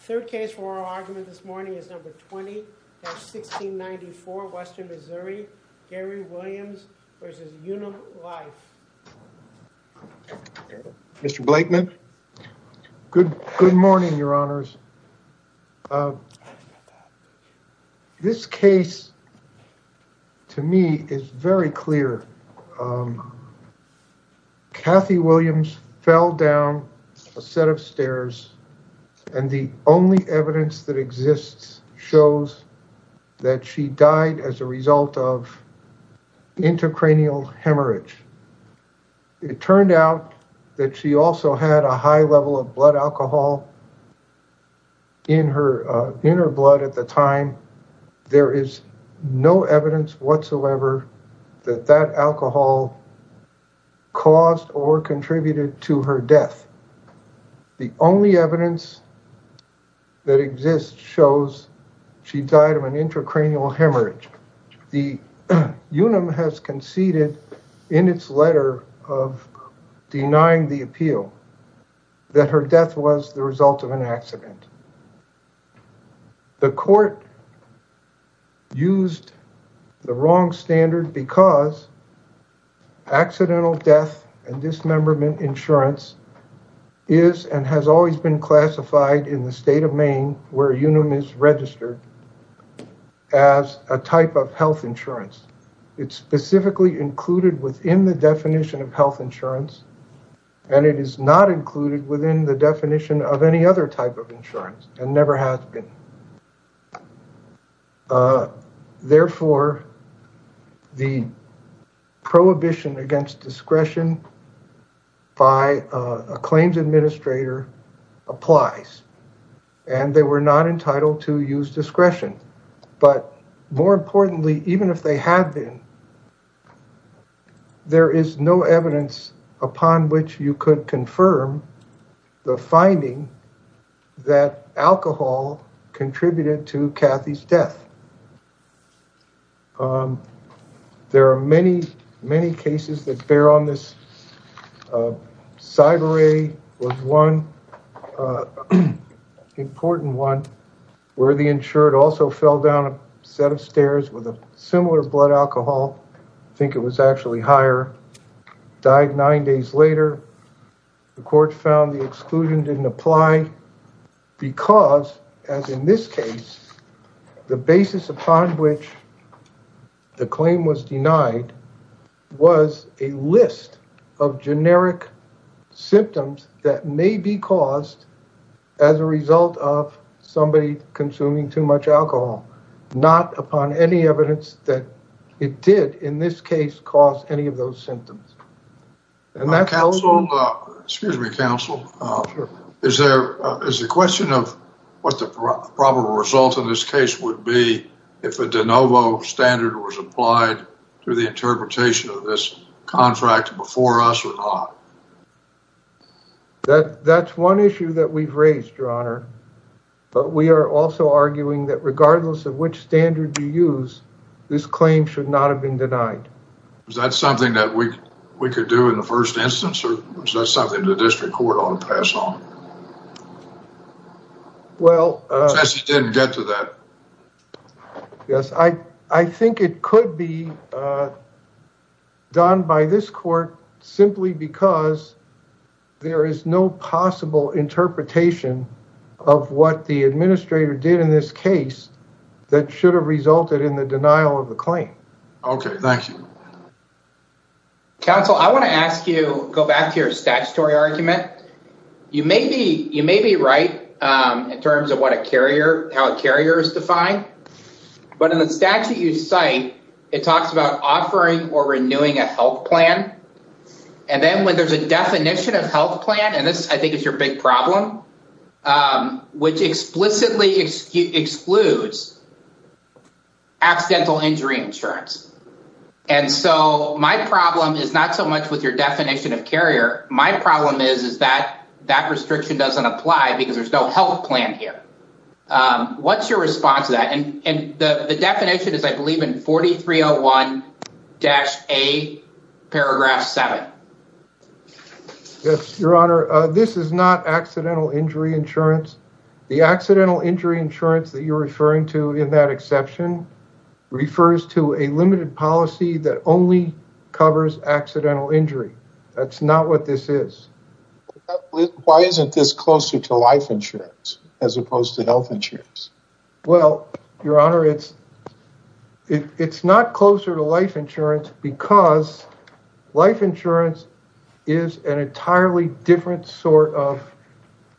Third case for our argument this morning is number 20-1694, Western Missouri, Gary Williams v. Unum Life. Mr. Blakeman? Good morning, your honors. This case, to me, is very clear. Kathy Williams fell down a set of stairs, and the only evidence that exists shows that she died as a result of intracranial hemorrhage. It turned out that she also had a high level of blood alcohol in her blood at the time. There is no evidence whatsoever that that alcohol caused or contributed to her death. The only evidence that exists shows she died of an intracranial hemorrhage. The Unum has conceded in its letter of denying the appeal that her death was the result of an accident. The court used the wrong standard because accidental death and dismemberment insurance is and has always been classified in the state of Maine, where Unum is registered, as a type of health insurance. It's specifically included within the definition of health insurance, and it is not included within the definition of any other type of insurance, and never has been. Therefore, the prohibition against discretion by a claims administrator applies, and they were not entitled to use discretion. But more importantly, even if they had been, there is no evidence upon which you could confirm the finding that alcohol contributed to Kathy's death. There are many, many cases that bear on this. Cyber-A was one important one, where the insured also fell down a set of stairs with a similar blood alcohol. I think it was actually higher. The court found the exclusion didn't apply because, as in this case, the basis upon which the claim was denied was a list of generic symptoms that may be caused as a result of somebody consuming too much alcohol. Not upon any evidence that it did, in this case, cause any of those symptoms. Excuse me, counsel. Is there a question of what the probable result of this case would be if a de novo standard was applied to the interpretation of this contract before us or not? That's one issue that we've raised, Your Honor. But we are also arguing that regardless of which standard you use, this claim should not have been denied. Is that something that we could do in the first instance, or is that something the district court ought to pass on? Well… Since you didn't get to that. Yes, I think it could be done by this court simply because there is no possible interpretation of what the administrator did in this case that should have resulted in the denial of the claim. Okay, thank you. Counsel, I want to ask you to go back to your statutory argument. You may be right in terms of how a carrier is defined, but in the statute you cite, it talks about offering or renewing a health plan. And then when there's a definition of health plan, and this, I think, is your big problem, which explicitly excludes accidental injury insurance. And so my problem is not so much with your definition of carrier. My problem is that that restriction doesn't apply because there's no health plan here. What's your response to that? And the definition is, I believe, in 4301-A, paragraph 7. Yes, Your Honor. This is not accidental injury insurance. The accidental injury insurance that you're referring to in that exception refers to a limited policy that only covers accidental injury. That's not what this is. Why isn't this closer to life insurance as opposed to health insurance? Well, Your Honor, it's not closer to life insurance because life insurance is an entirely different sort of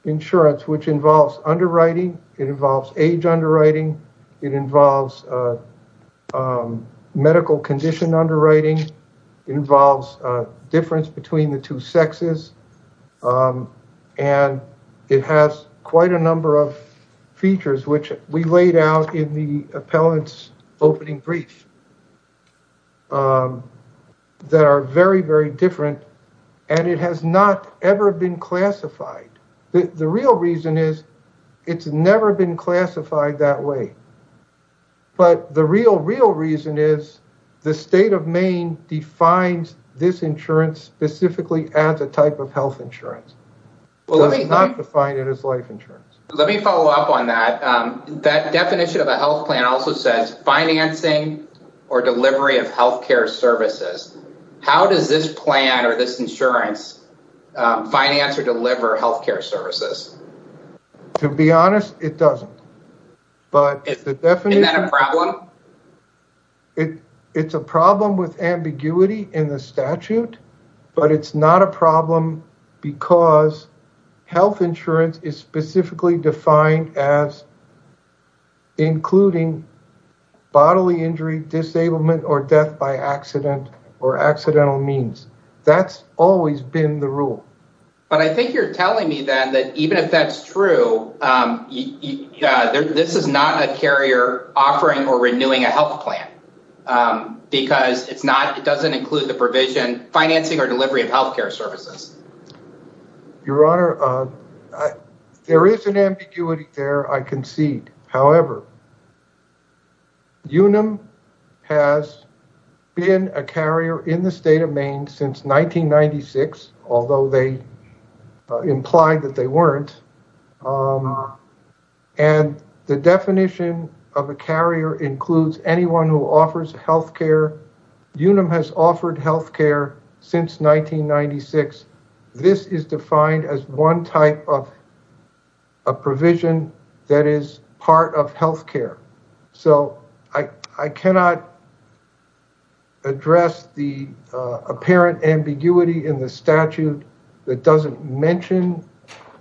insurance, which involves underwriting. It involves age underwriting. It involves medical condition underwriting. It involves difference between the two sexes. And it has quite a number of features, which we laid out in the appellant's opening brief, that are very, very different. And it has not ever been classified. The real reason is, it's never been classified that way. But the real, real reason is, the state of Maine defines this insurance specifically as a type of health insurance. It does not define it as life insurance. Let me follow up on that. That definition of a health plan also says financing or delivery of health care services. How does this plan or this insurance finance or deliver health care services? To be honest, it doesn't. Isn't that a problem? It's a problem with ambiguity in the statute. But it's not a problem because health insurance is specifically defined as including bodily injury, disablement, or death by accident or accidental means. That's always been the rule. But I think you're telling me, then, that even if that's true, this is not a carrier offering or renewing a health plan. Because it doesn't include the provision financing or delivery of health care services. Your Honor, there is an ambiguity there, I concede. However, UNAM has been a carrier in the state of Maine since 1996, although they implied that they weren't. And the definition of a carrier includes anyone who offers health care. UNAM has offered health care since 1996. This is defined as one type of provision that is part of health care. So, I cannot address the apparent ambiguity in the statute that doesn't mention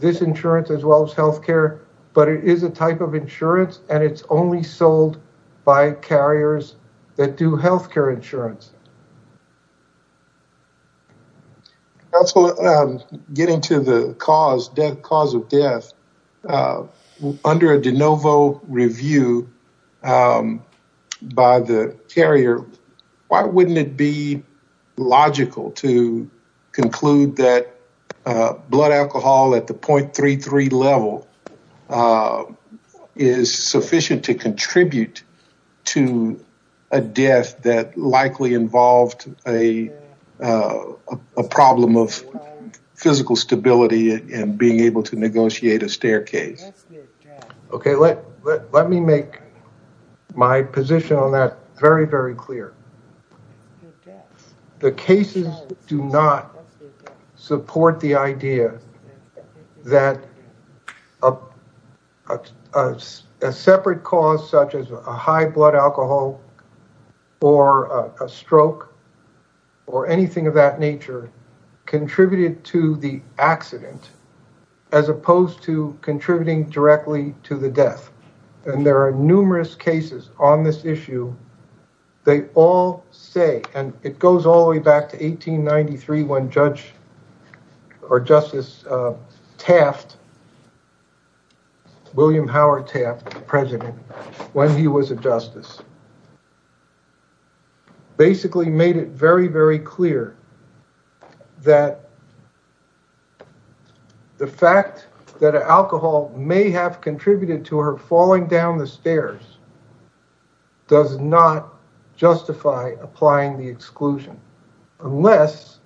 this insurance as well as health care. But it is a type of insurance, and it's only sold by carriers that do health care insurance. Counselor, getting to the cause of death, under a de novo review by the carrier, why wouldn't it be logical to conclude that blood alcohol at the .33 level is sufficient to contribute to a death that likely involved a problem of physical stability and being able to negotiate a staircase? Let me make my position on that very, very clear. The cases do not support the idea that a separate cause such as a high blood alcohol or a stroke or anything of that nature contributed to the accident as opposed to contributing directly to the death. And there are numerous cases on this issue. They all say, and it goes all the way back to 1893 when Justice Taft, William Howard Taft, the president, when he was a justice, basically made it very, very clear that the fact that alcohol may have contributed to her falling down the stairs does not justify applying the exclusion. Unless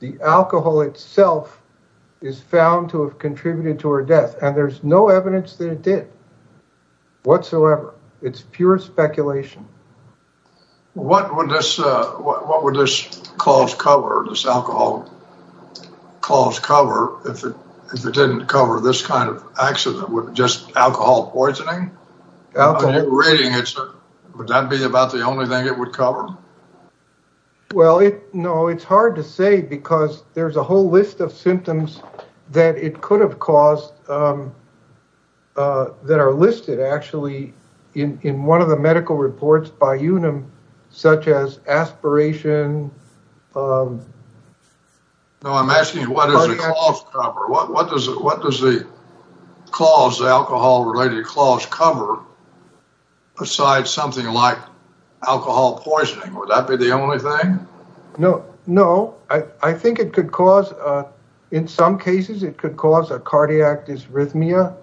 the alcohol itself is found to have contributed to her death, and there's no evidence that it did whatsoever. It's pure speculation. What would this cause cover, this alcohol cause cover, if it didn't cover this kind of accident with just alcohol poisoning? Would that be about the only thing it would cover? Well, no, it's hard to say because there's a whole list of symptoms that it could have caused that are listed actually in one of the medical reports by UNAM, such as aspiration. No, I'm asking what does the alcohol related cause cover besides something like alcohol poisoning? Would that be the only thing? No, I think it could cause, in some cases, it could cause a cardiac dysrhythmia.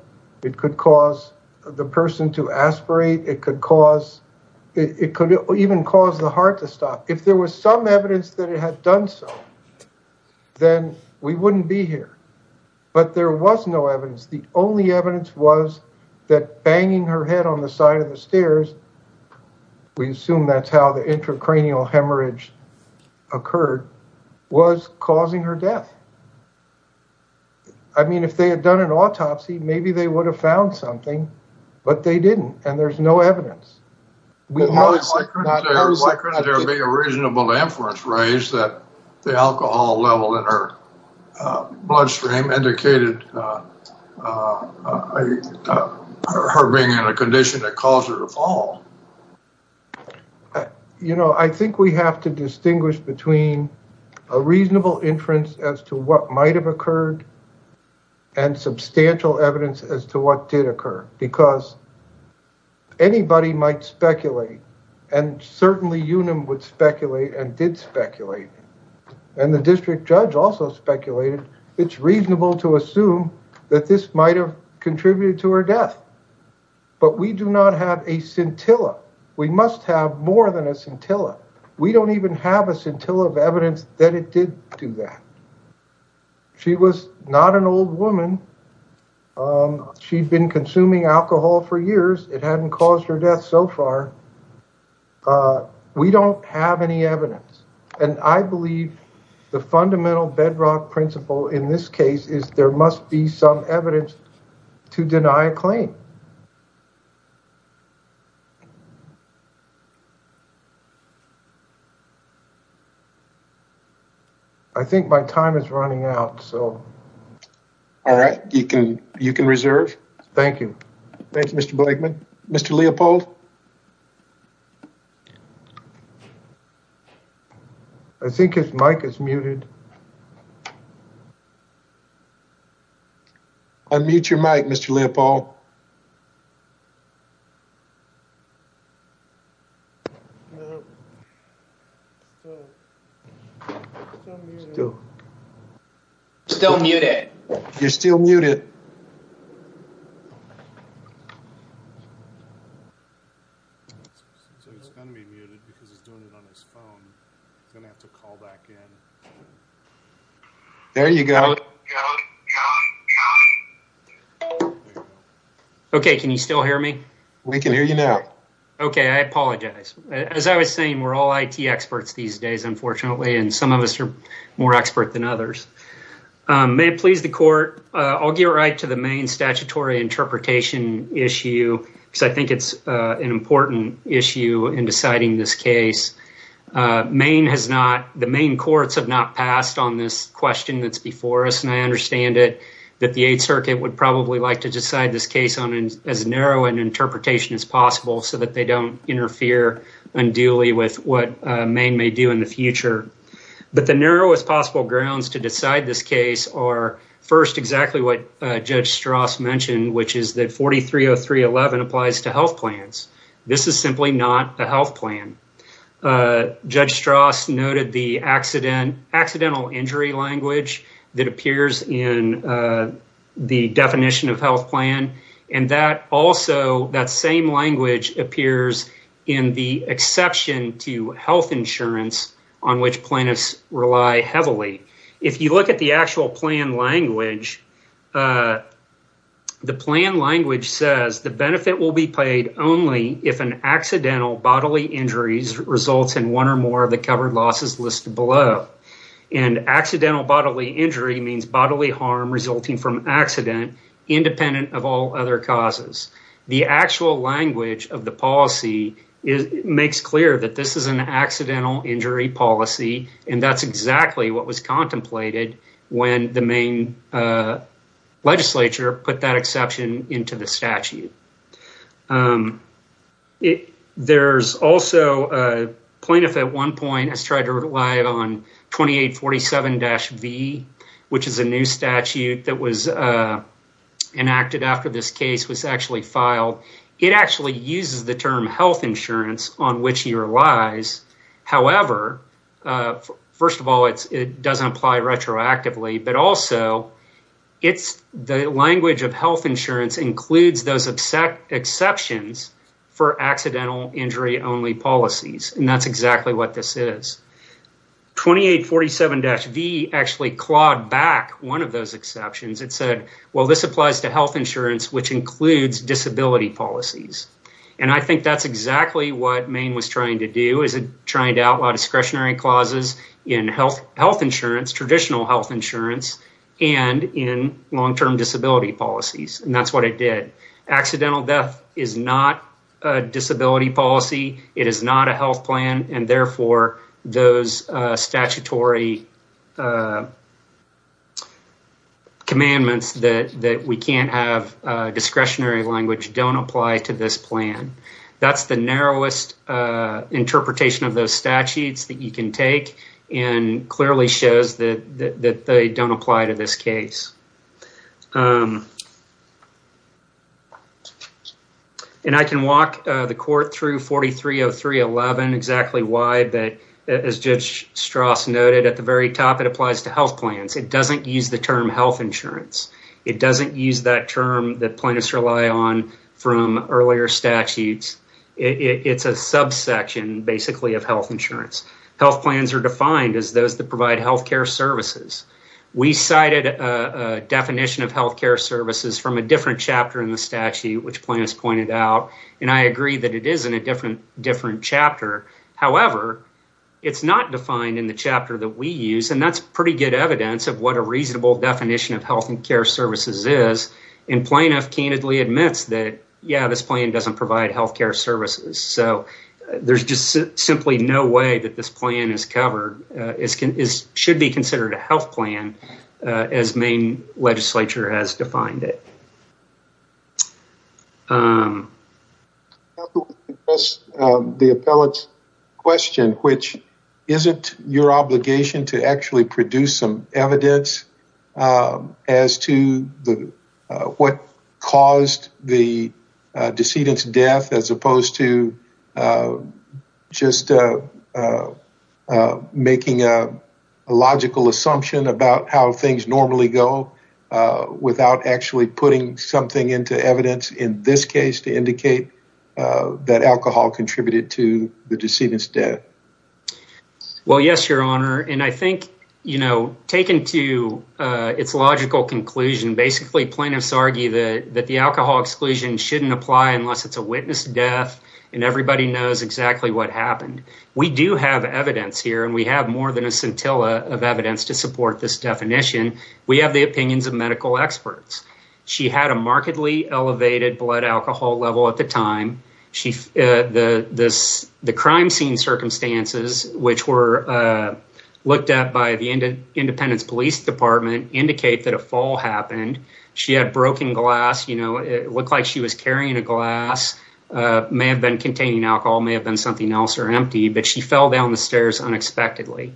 It could cause the person to aspirate. It could even cause the heart to stop. If there was some evidence that it had done so, then we wouldn't be here. But there was no evidence. The only evidence was that banging her head on the side of the stairs, we assume that's how the intracranial hemorrhage occurred, was causing her death. I mean, if they had done an autopsy, maybe they would have found something, but they didn't, and there's no evidence. Why couldn't there be a reasonable inference raised that the alcohol level in her bloodstream indicated her being in a condition that caused her to fall? You know, I think we have to distinguish between a reasonable inference as to what might have occurred and substantial evidence as to what did occur. Because anybody might speculate, and certainly UNAM would speculate and did speculate, and the district judge also speculated, it's reasonable to assume that this might have contributed to her death. But we do not have a scintilla. We must have more than a scintilla. We don't even have a scintilla of evidence that it did do that. She was not an old woman. She'd been consuming alcohol for years. It hadn't caused her death so far. We don't have any evidence. And I believe the fundamental bedrock principle in this case is there must be some evidence to deny a claim. I think my time is running out, so... All right, you can reserve. Thank you. Thank you, Mr. Blakeman. Mr. Leopold? I think his mic is muted. Unmute your mic, Mr. Leopold. Still muted. You're still muted. I'm going to have to call back in. There you go. Okay, can you still hear me? We can hear you now. Okay, I apologize. As I was saying, we're all IT experts these days, unfortunately, and some of us are more expert than others. May it please the court, I'll get right to the main statutory interpretation issue, because I think it's an important issue in deciding this case. Maine has not... The Maine courts have not passed on this question that's before us, and I understand it, that the Eighth Circuit would probably like to decide this case on as narrow an interpretation as possible so that they don't interfere unduly with what Maine may do in the future. But the narrowest possible grounds to decide this case are, first, exactly what Judge Strauss mentioned, which is that 430311 applies to health plans. This is simply not a health plan. Judge Strauss noted the accidental injury language that appears in the definition of health plan, and that also, that same language appears in the exception to health insurance on which plaintiffs rely heavily. If you look at the actual plan language, the plan language says, the benefit will be paid only if an accidental bodily injury results in one or more of the covered losses listed below. And accidental bodily injury means bodily harm resulting from accident, independent of all other causes. The actual language of the policy makes clear that this is an accidental injury policy, and that's exactly what was contemplated when the Maine legislature put that exception into the statute. There's also a plaintiff at one point has tried to rely on 2847-V, which is a new statute that was enacted after this case was actually filed. It actually uses the term health insurance on which he relies. However, first of all, it doesn't apply retroactively, but also, the language of health insurance includes those exceptions for accidental injury only policies, and that's exactly what this is. 2847-V actually clawed back one of those exceptions. It said, well, this applies to health insurance, which includes disability policies. And I think that's exactly what Maine was trying to do, is trying to outlaw discretionary clauses in health insurance, traditional health insurance, and in long-term disability policies, and that's what it did. Accidental death is not a disability policy. It is not a health plan, and therefore, those statutory commandments that we can't have discretionary language don't apply to this plan. That's the narrowest interpretation of those statutes that you can take, and clearly shows that they don't apply to this case. And I can walk the court through 4303-11 exactly why, but as Judge Strass noted at the very top, it applies to health plans. It doesn't use the term health insurance. It doesn't use that term that plaintiffs rely on from earlier statutes. It's a subsection, basically, of health insurance. Health plans are defined as those that provide health care services. We cited a definition of health care services from a different chapter in the statute, which plaintiffs pointed out, and I agree that it is in a different chapter. However, it's not defined in the chapter that we use, and that's pretty good evidence of what a reasonable definition of health and care services is, and plaintiff candidly admits that, yeah, this plan doesn't provide health care services. So there's just simply no way that this plan is covered. It should be considered a health plan as Maine legislature has defined it. I would like to address the appellate's question, which isn't your obligation to actually produce some evidence as to what caused the decedent's death, as opposed to just making a logical assumption about how things normally go without actually putting something into evidence in this case to indicate that alcohol contributed to the decedent's death. Well, yes, Your Honor, and I think, you know, taken to its logical conclusion, basically plaintiffs argue that the alcohol exclusion shouldn't apply unless it's a witness to death, and everybody knows exactly what happened. We do have evidence here, and we have more than a scintilla of evidence to support this definition. We have the opinions of medical experts. She had a markedly elevated blood alcohol level at the time. The crime scene circumstances, which were looked at by the Independence Police Department, indicate that a fall happened. She had broken glass. You know, it looked like she was carrying a glass. It may have been containing alcohol. It may have been something else or empty, but she fell down the stairs unexpectedly.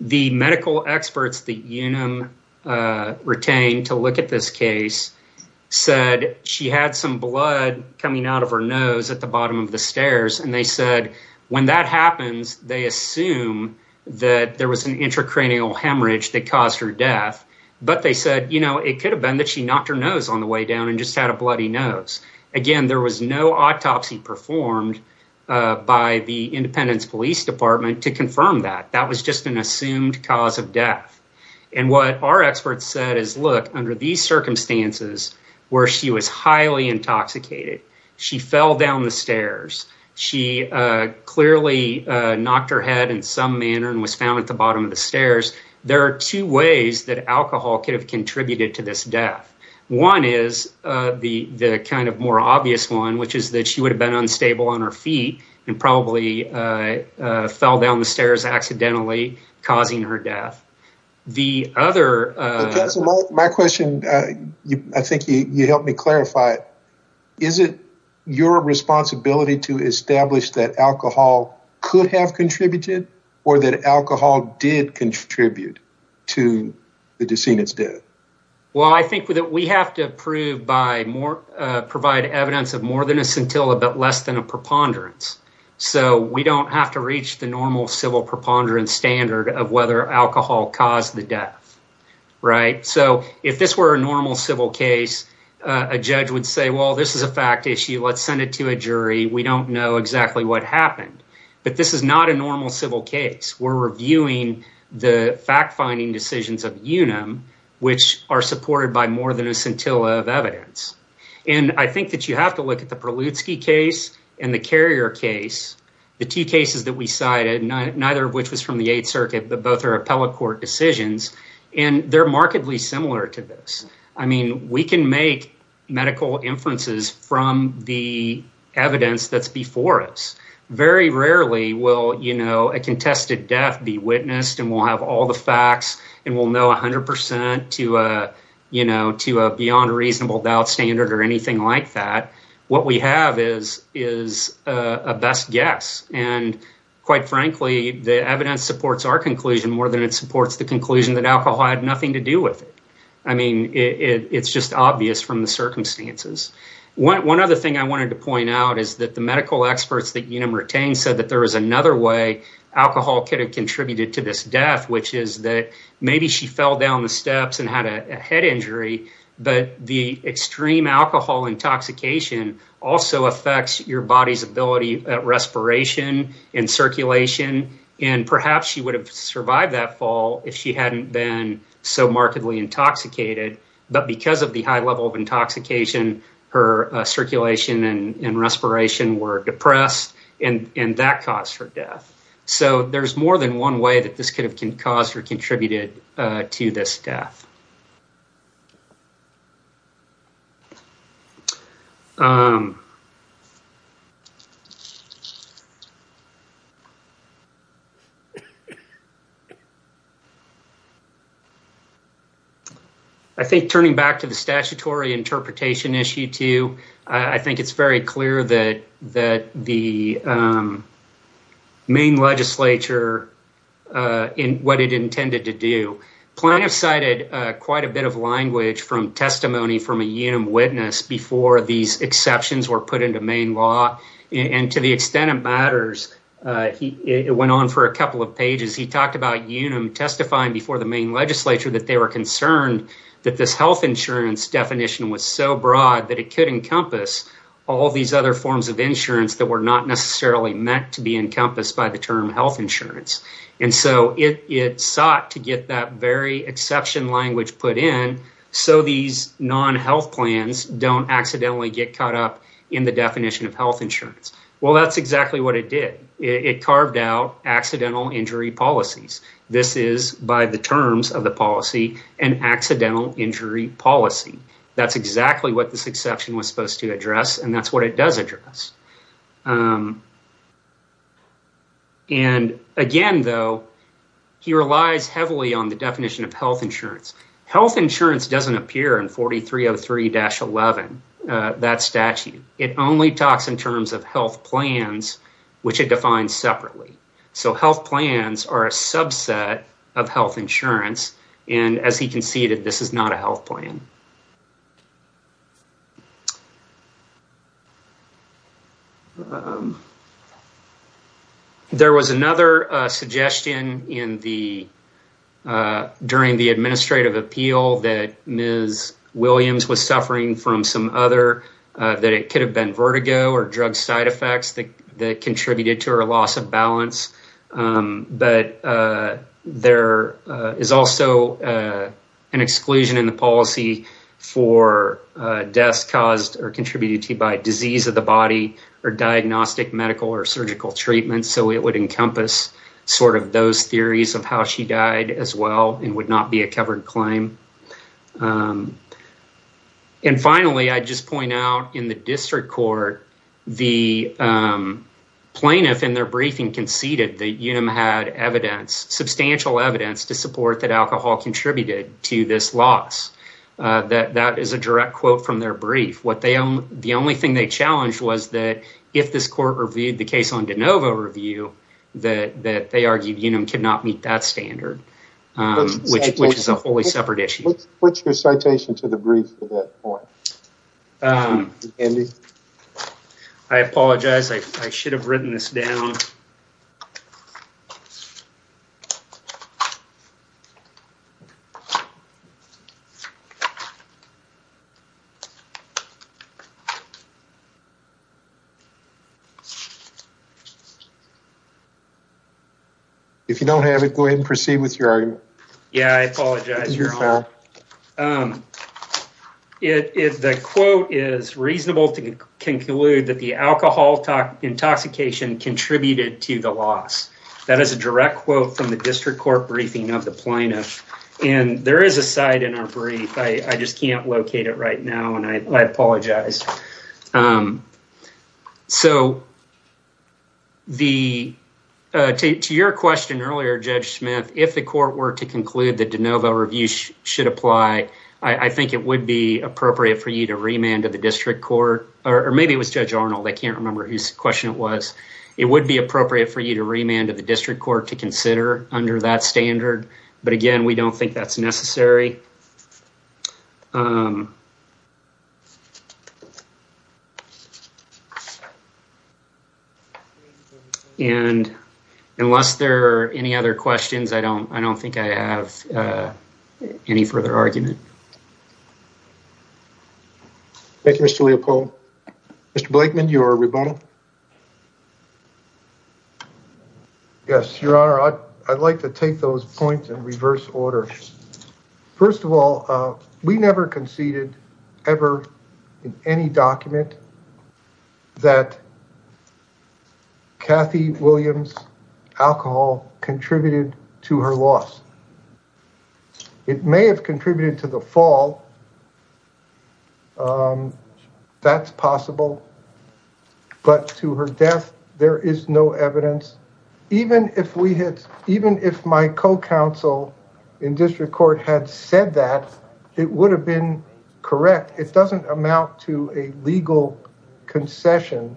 The medical experts that Unum retained to look at this case said she had some blood coming out of her nose at the bottom of the stairs, and they said when that happens, they assume that there was an intracranial hemorrhage that caused her death, but they said, you know, it could have been that she knocked her nose on the way down and just had a bloody nose. Again, there was no autopsy performed by the Independence Police Department to confirm that. That was just an assumed cause of death, and what our experts said is, look, under these circumstances where she was highly intoxicated, she fell down the stairs. She clearly knocked her head in some manner and was found at the bottom of the stairs. There are two ways that alcohol could have contributed to this death. One is the kind of more obvious one, which is that she would have been unstable on her feet and probably fell down the stairs accidentally, causing her death. My question, I think you helped me clarify it. Is it your responsibility to establish that alcohol could have contributed or that alcohol did contribute to the decedent's death? Well, I think that we have to provide evidence of more than a scintilla but less than a preponderance, so we don't have to reach the normal civil preponderance standard of whether alcohol caused the death, right? So if this were a normal civil case, a judge would say, well, this is a fact issue. Let's send it to a jury. We don't know exactly what happened, but this is not a normal civil case. We're reviewing the fact-finding decisions of UNAM, which are supported by more than a scintilla of evidence. And I think that you have to look at the Prelutsky case and the Carrier case, the two cases that we cited, neither of which was from the Eighth Circuit, but both are appellate court decisions, and they're markedly similar to this. I mean, we can make medical inferences from the evidence that's before us. Very rarely will a contested death be witnessed, and we'll have all the facts, and we'll know 100 percent to a beyond-reasonable-doubt standard or anything like that. What we have is a best guess. And quite frankly, the evidence supports our conclusion more than it supports the conclusion that alcohol had nothing to do with it. I mean, it's just obvious from the circumstances. One other thing I wanted to point out is that the medical experts that UNAM retained said that there was another way alcohol could have contributed to this death, which is that maybe she fell down the steps and had a head injury, but the extreme alcohol intoxication also affects your body's ability at respiration and circulation, and perhaps she would have survived that fall if she hadn't been so markedly intoxicated. But because of the high level of intoxication, her circulation and respiration were depressed, and that caused her death. So there's more than one way that this could have caused or contributed to this death. I think turning back to the statutory interpretation issue, too, I think it's very clear that the main legislature, what it intended to do. Plano cited quite a bit of language from testimony from a UNAM witness before these exceptions were put into main law, and to the extent it matters, it went on for a couple of pages. He talked about UNAM testifying before the main legislature that they were concerned that this health insurance definition was so broad that it could encompass all these other forms of insurance that were not necessarily meant to be encompassed by the term health insurance. And so it sought to get that very exception language put in so these non-health plans don't accidentally get caught up in the definition of health insurance. Well, that's exactly what it did. It carved out accidental injury policies. This is, by the terms of the policy, an accidental injury policy. That's exactly what this exception was supposed to address, and that's what it does address. And again, though, he relies heavily on the definition of health insurance. Health insurance doesn't appear in 4303-11, that statute. It only talks in terms of health plans, which it defines separately. So health plans are a subset of health insurance, and as he conceded, this is not a health plan. There was another suggestion during the administrative appeal that Ms. Williams was suffering from some other, that it could have been vertigo or drug side effects that contributed to her loss of balance. But there is also an exclusion in the policy for deaths caused or contributed to by disease of the body or diagnostic medical or surgical treatment. So it would encompass sort of those theories of how she died as well and would not be a covered claim. And finally, I just point out in the district court, the plaintiff in their briefing conceded that Unum had substantial evidence to support that alcohol contributed to this loss. That is a direct quote from their brief. The only thing they challenged was that if this court reviewed the case on de novo review, that they argued Unum could not meet that standard, which is a wholly separate issue. Put your citation to the brief at that point. I apologize. I should have written this down. If you don't have it, go ahead and proceed with your argument. Yeah, I apologize. If the quote is reasonable to conclude that the alcohol intoxication contributed to the loss, that is a direct quote from the district court briefing of the plaintiff. And there is a side in our brief. I just can't locate it right now. And I apologize. To your question earlier, Judge Smith, if the court were to conclude that de novo review should apply, I think it would be appropriate for you to remand to the district court. Or maybe it was Judge Arnold. I can't remember whose question it was. It would be appropriate for you to remand to the district court to consider under that standard. But again, we don't think that's necessary. And unless there are any other questions, I don't I don't think I have any further argument. Thank you, Mr. Leopold. Mr. Blakeman, you are rebuttal. Yes, you are. I'd like to take those points in reverse order. First of all, we never conceded ever in any document that. Kathy Williams alcohol contributed to her loss. It may have contributed to the fall. That's possible. But to her death, there is no evidence. Even if we had, even if my co-counsel in district court had said that, it would have been correct. It doesn't amount to a legal concession.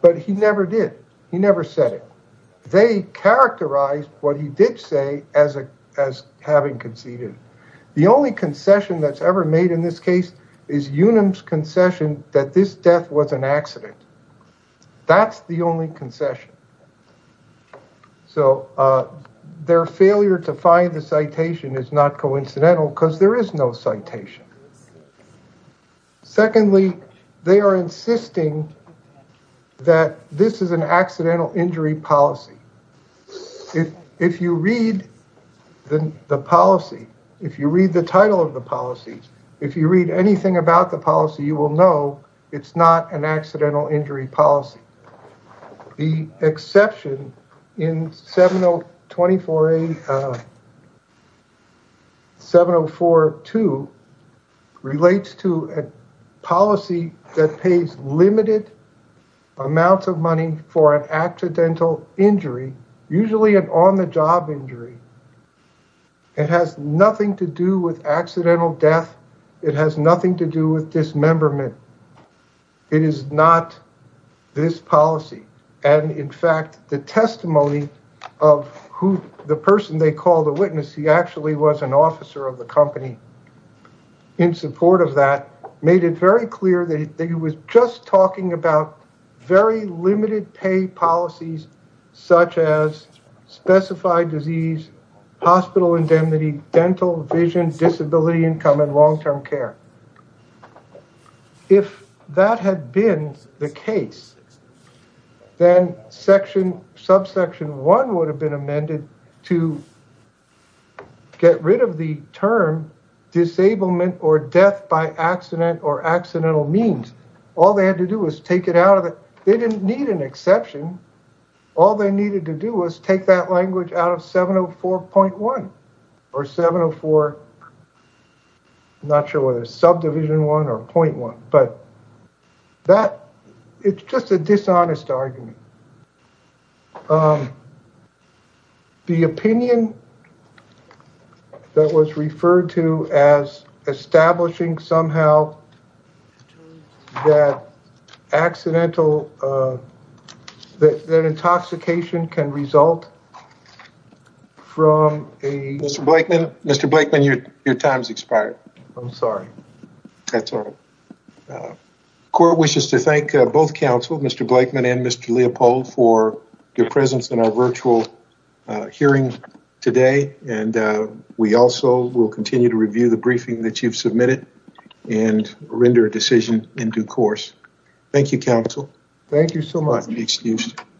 But he never did. He never said it. They characterized what he did say as a as having conceded. The only concession that's ever made in this case is Unum's concession that this death was an accident. That's the only concession. So their failure to find the citation is not coincidental because there is no citation. Secondly, they are insisting that this is an accidental injury policy. If if you read the policy, if you read the title of the policy, if you read anything about the policy, you will know it's not an accidental injury policy. The exception in 7024A 7042 relates to a policy that pays limited amounts of money for an accidental injury, usually an on-the-job injury. It has nothing to do with accidental death. It has nothing to do with dismemberment. It is not this policy. And in fact, the testimony of who the person they called a witness, he actually was an officer of the company. In support of that, made it very clear that he was just talking about very limited pay policies such as specified disease, hospital indemnity, dental, vision, disability, income, and long-term care. If that had been the case, then section subsection one would have been amended to get rid of the term disablement or death by accident or accidental means. All they had to do was take it out of it. They didn't need an exception. All they needed to do was take that language out of 704.1 or 704. I'm not sure whether it's subdivision one or point one, but that it's just a dishonest argument. The opinion that was referred to as establishing somehow that accidental, that intoxication can result from a... Mr. Blakeman, your time's expired. I'm sorry. That's all right. Court wishes to thank both counsel, Mr. Blakeman and Mr. Leopold for your presence in our virtual hearing today. And we also will continue to review the briefing that you've submitted and render a decision in due course. Thank you, counsel. Thank you so much.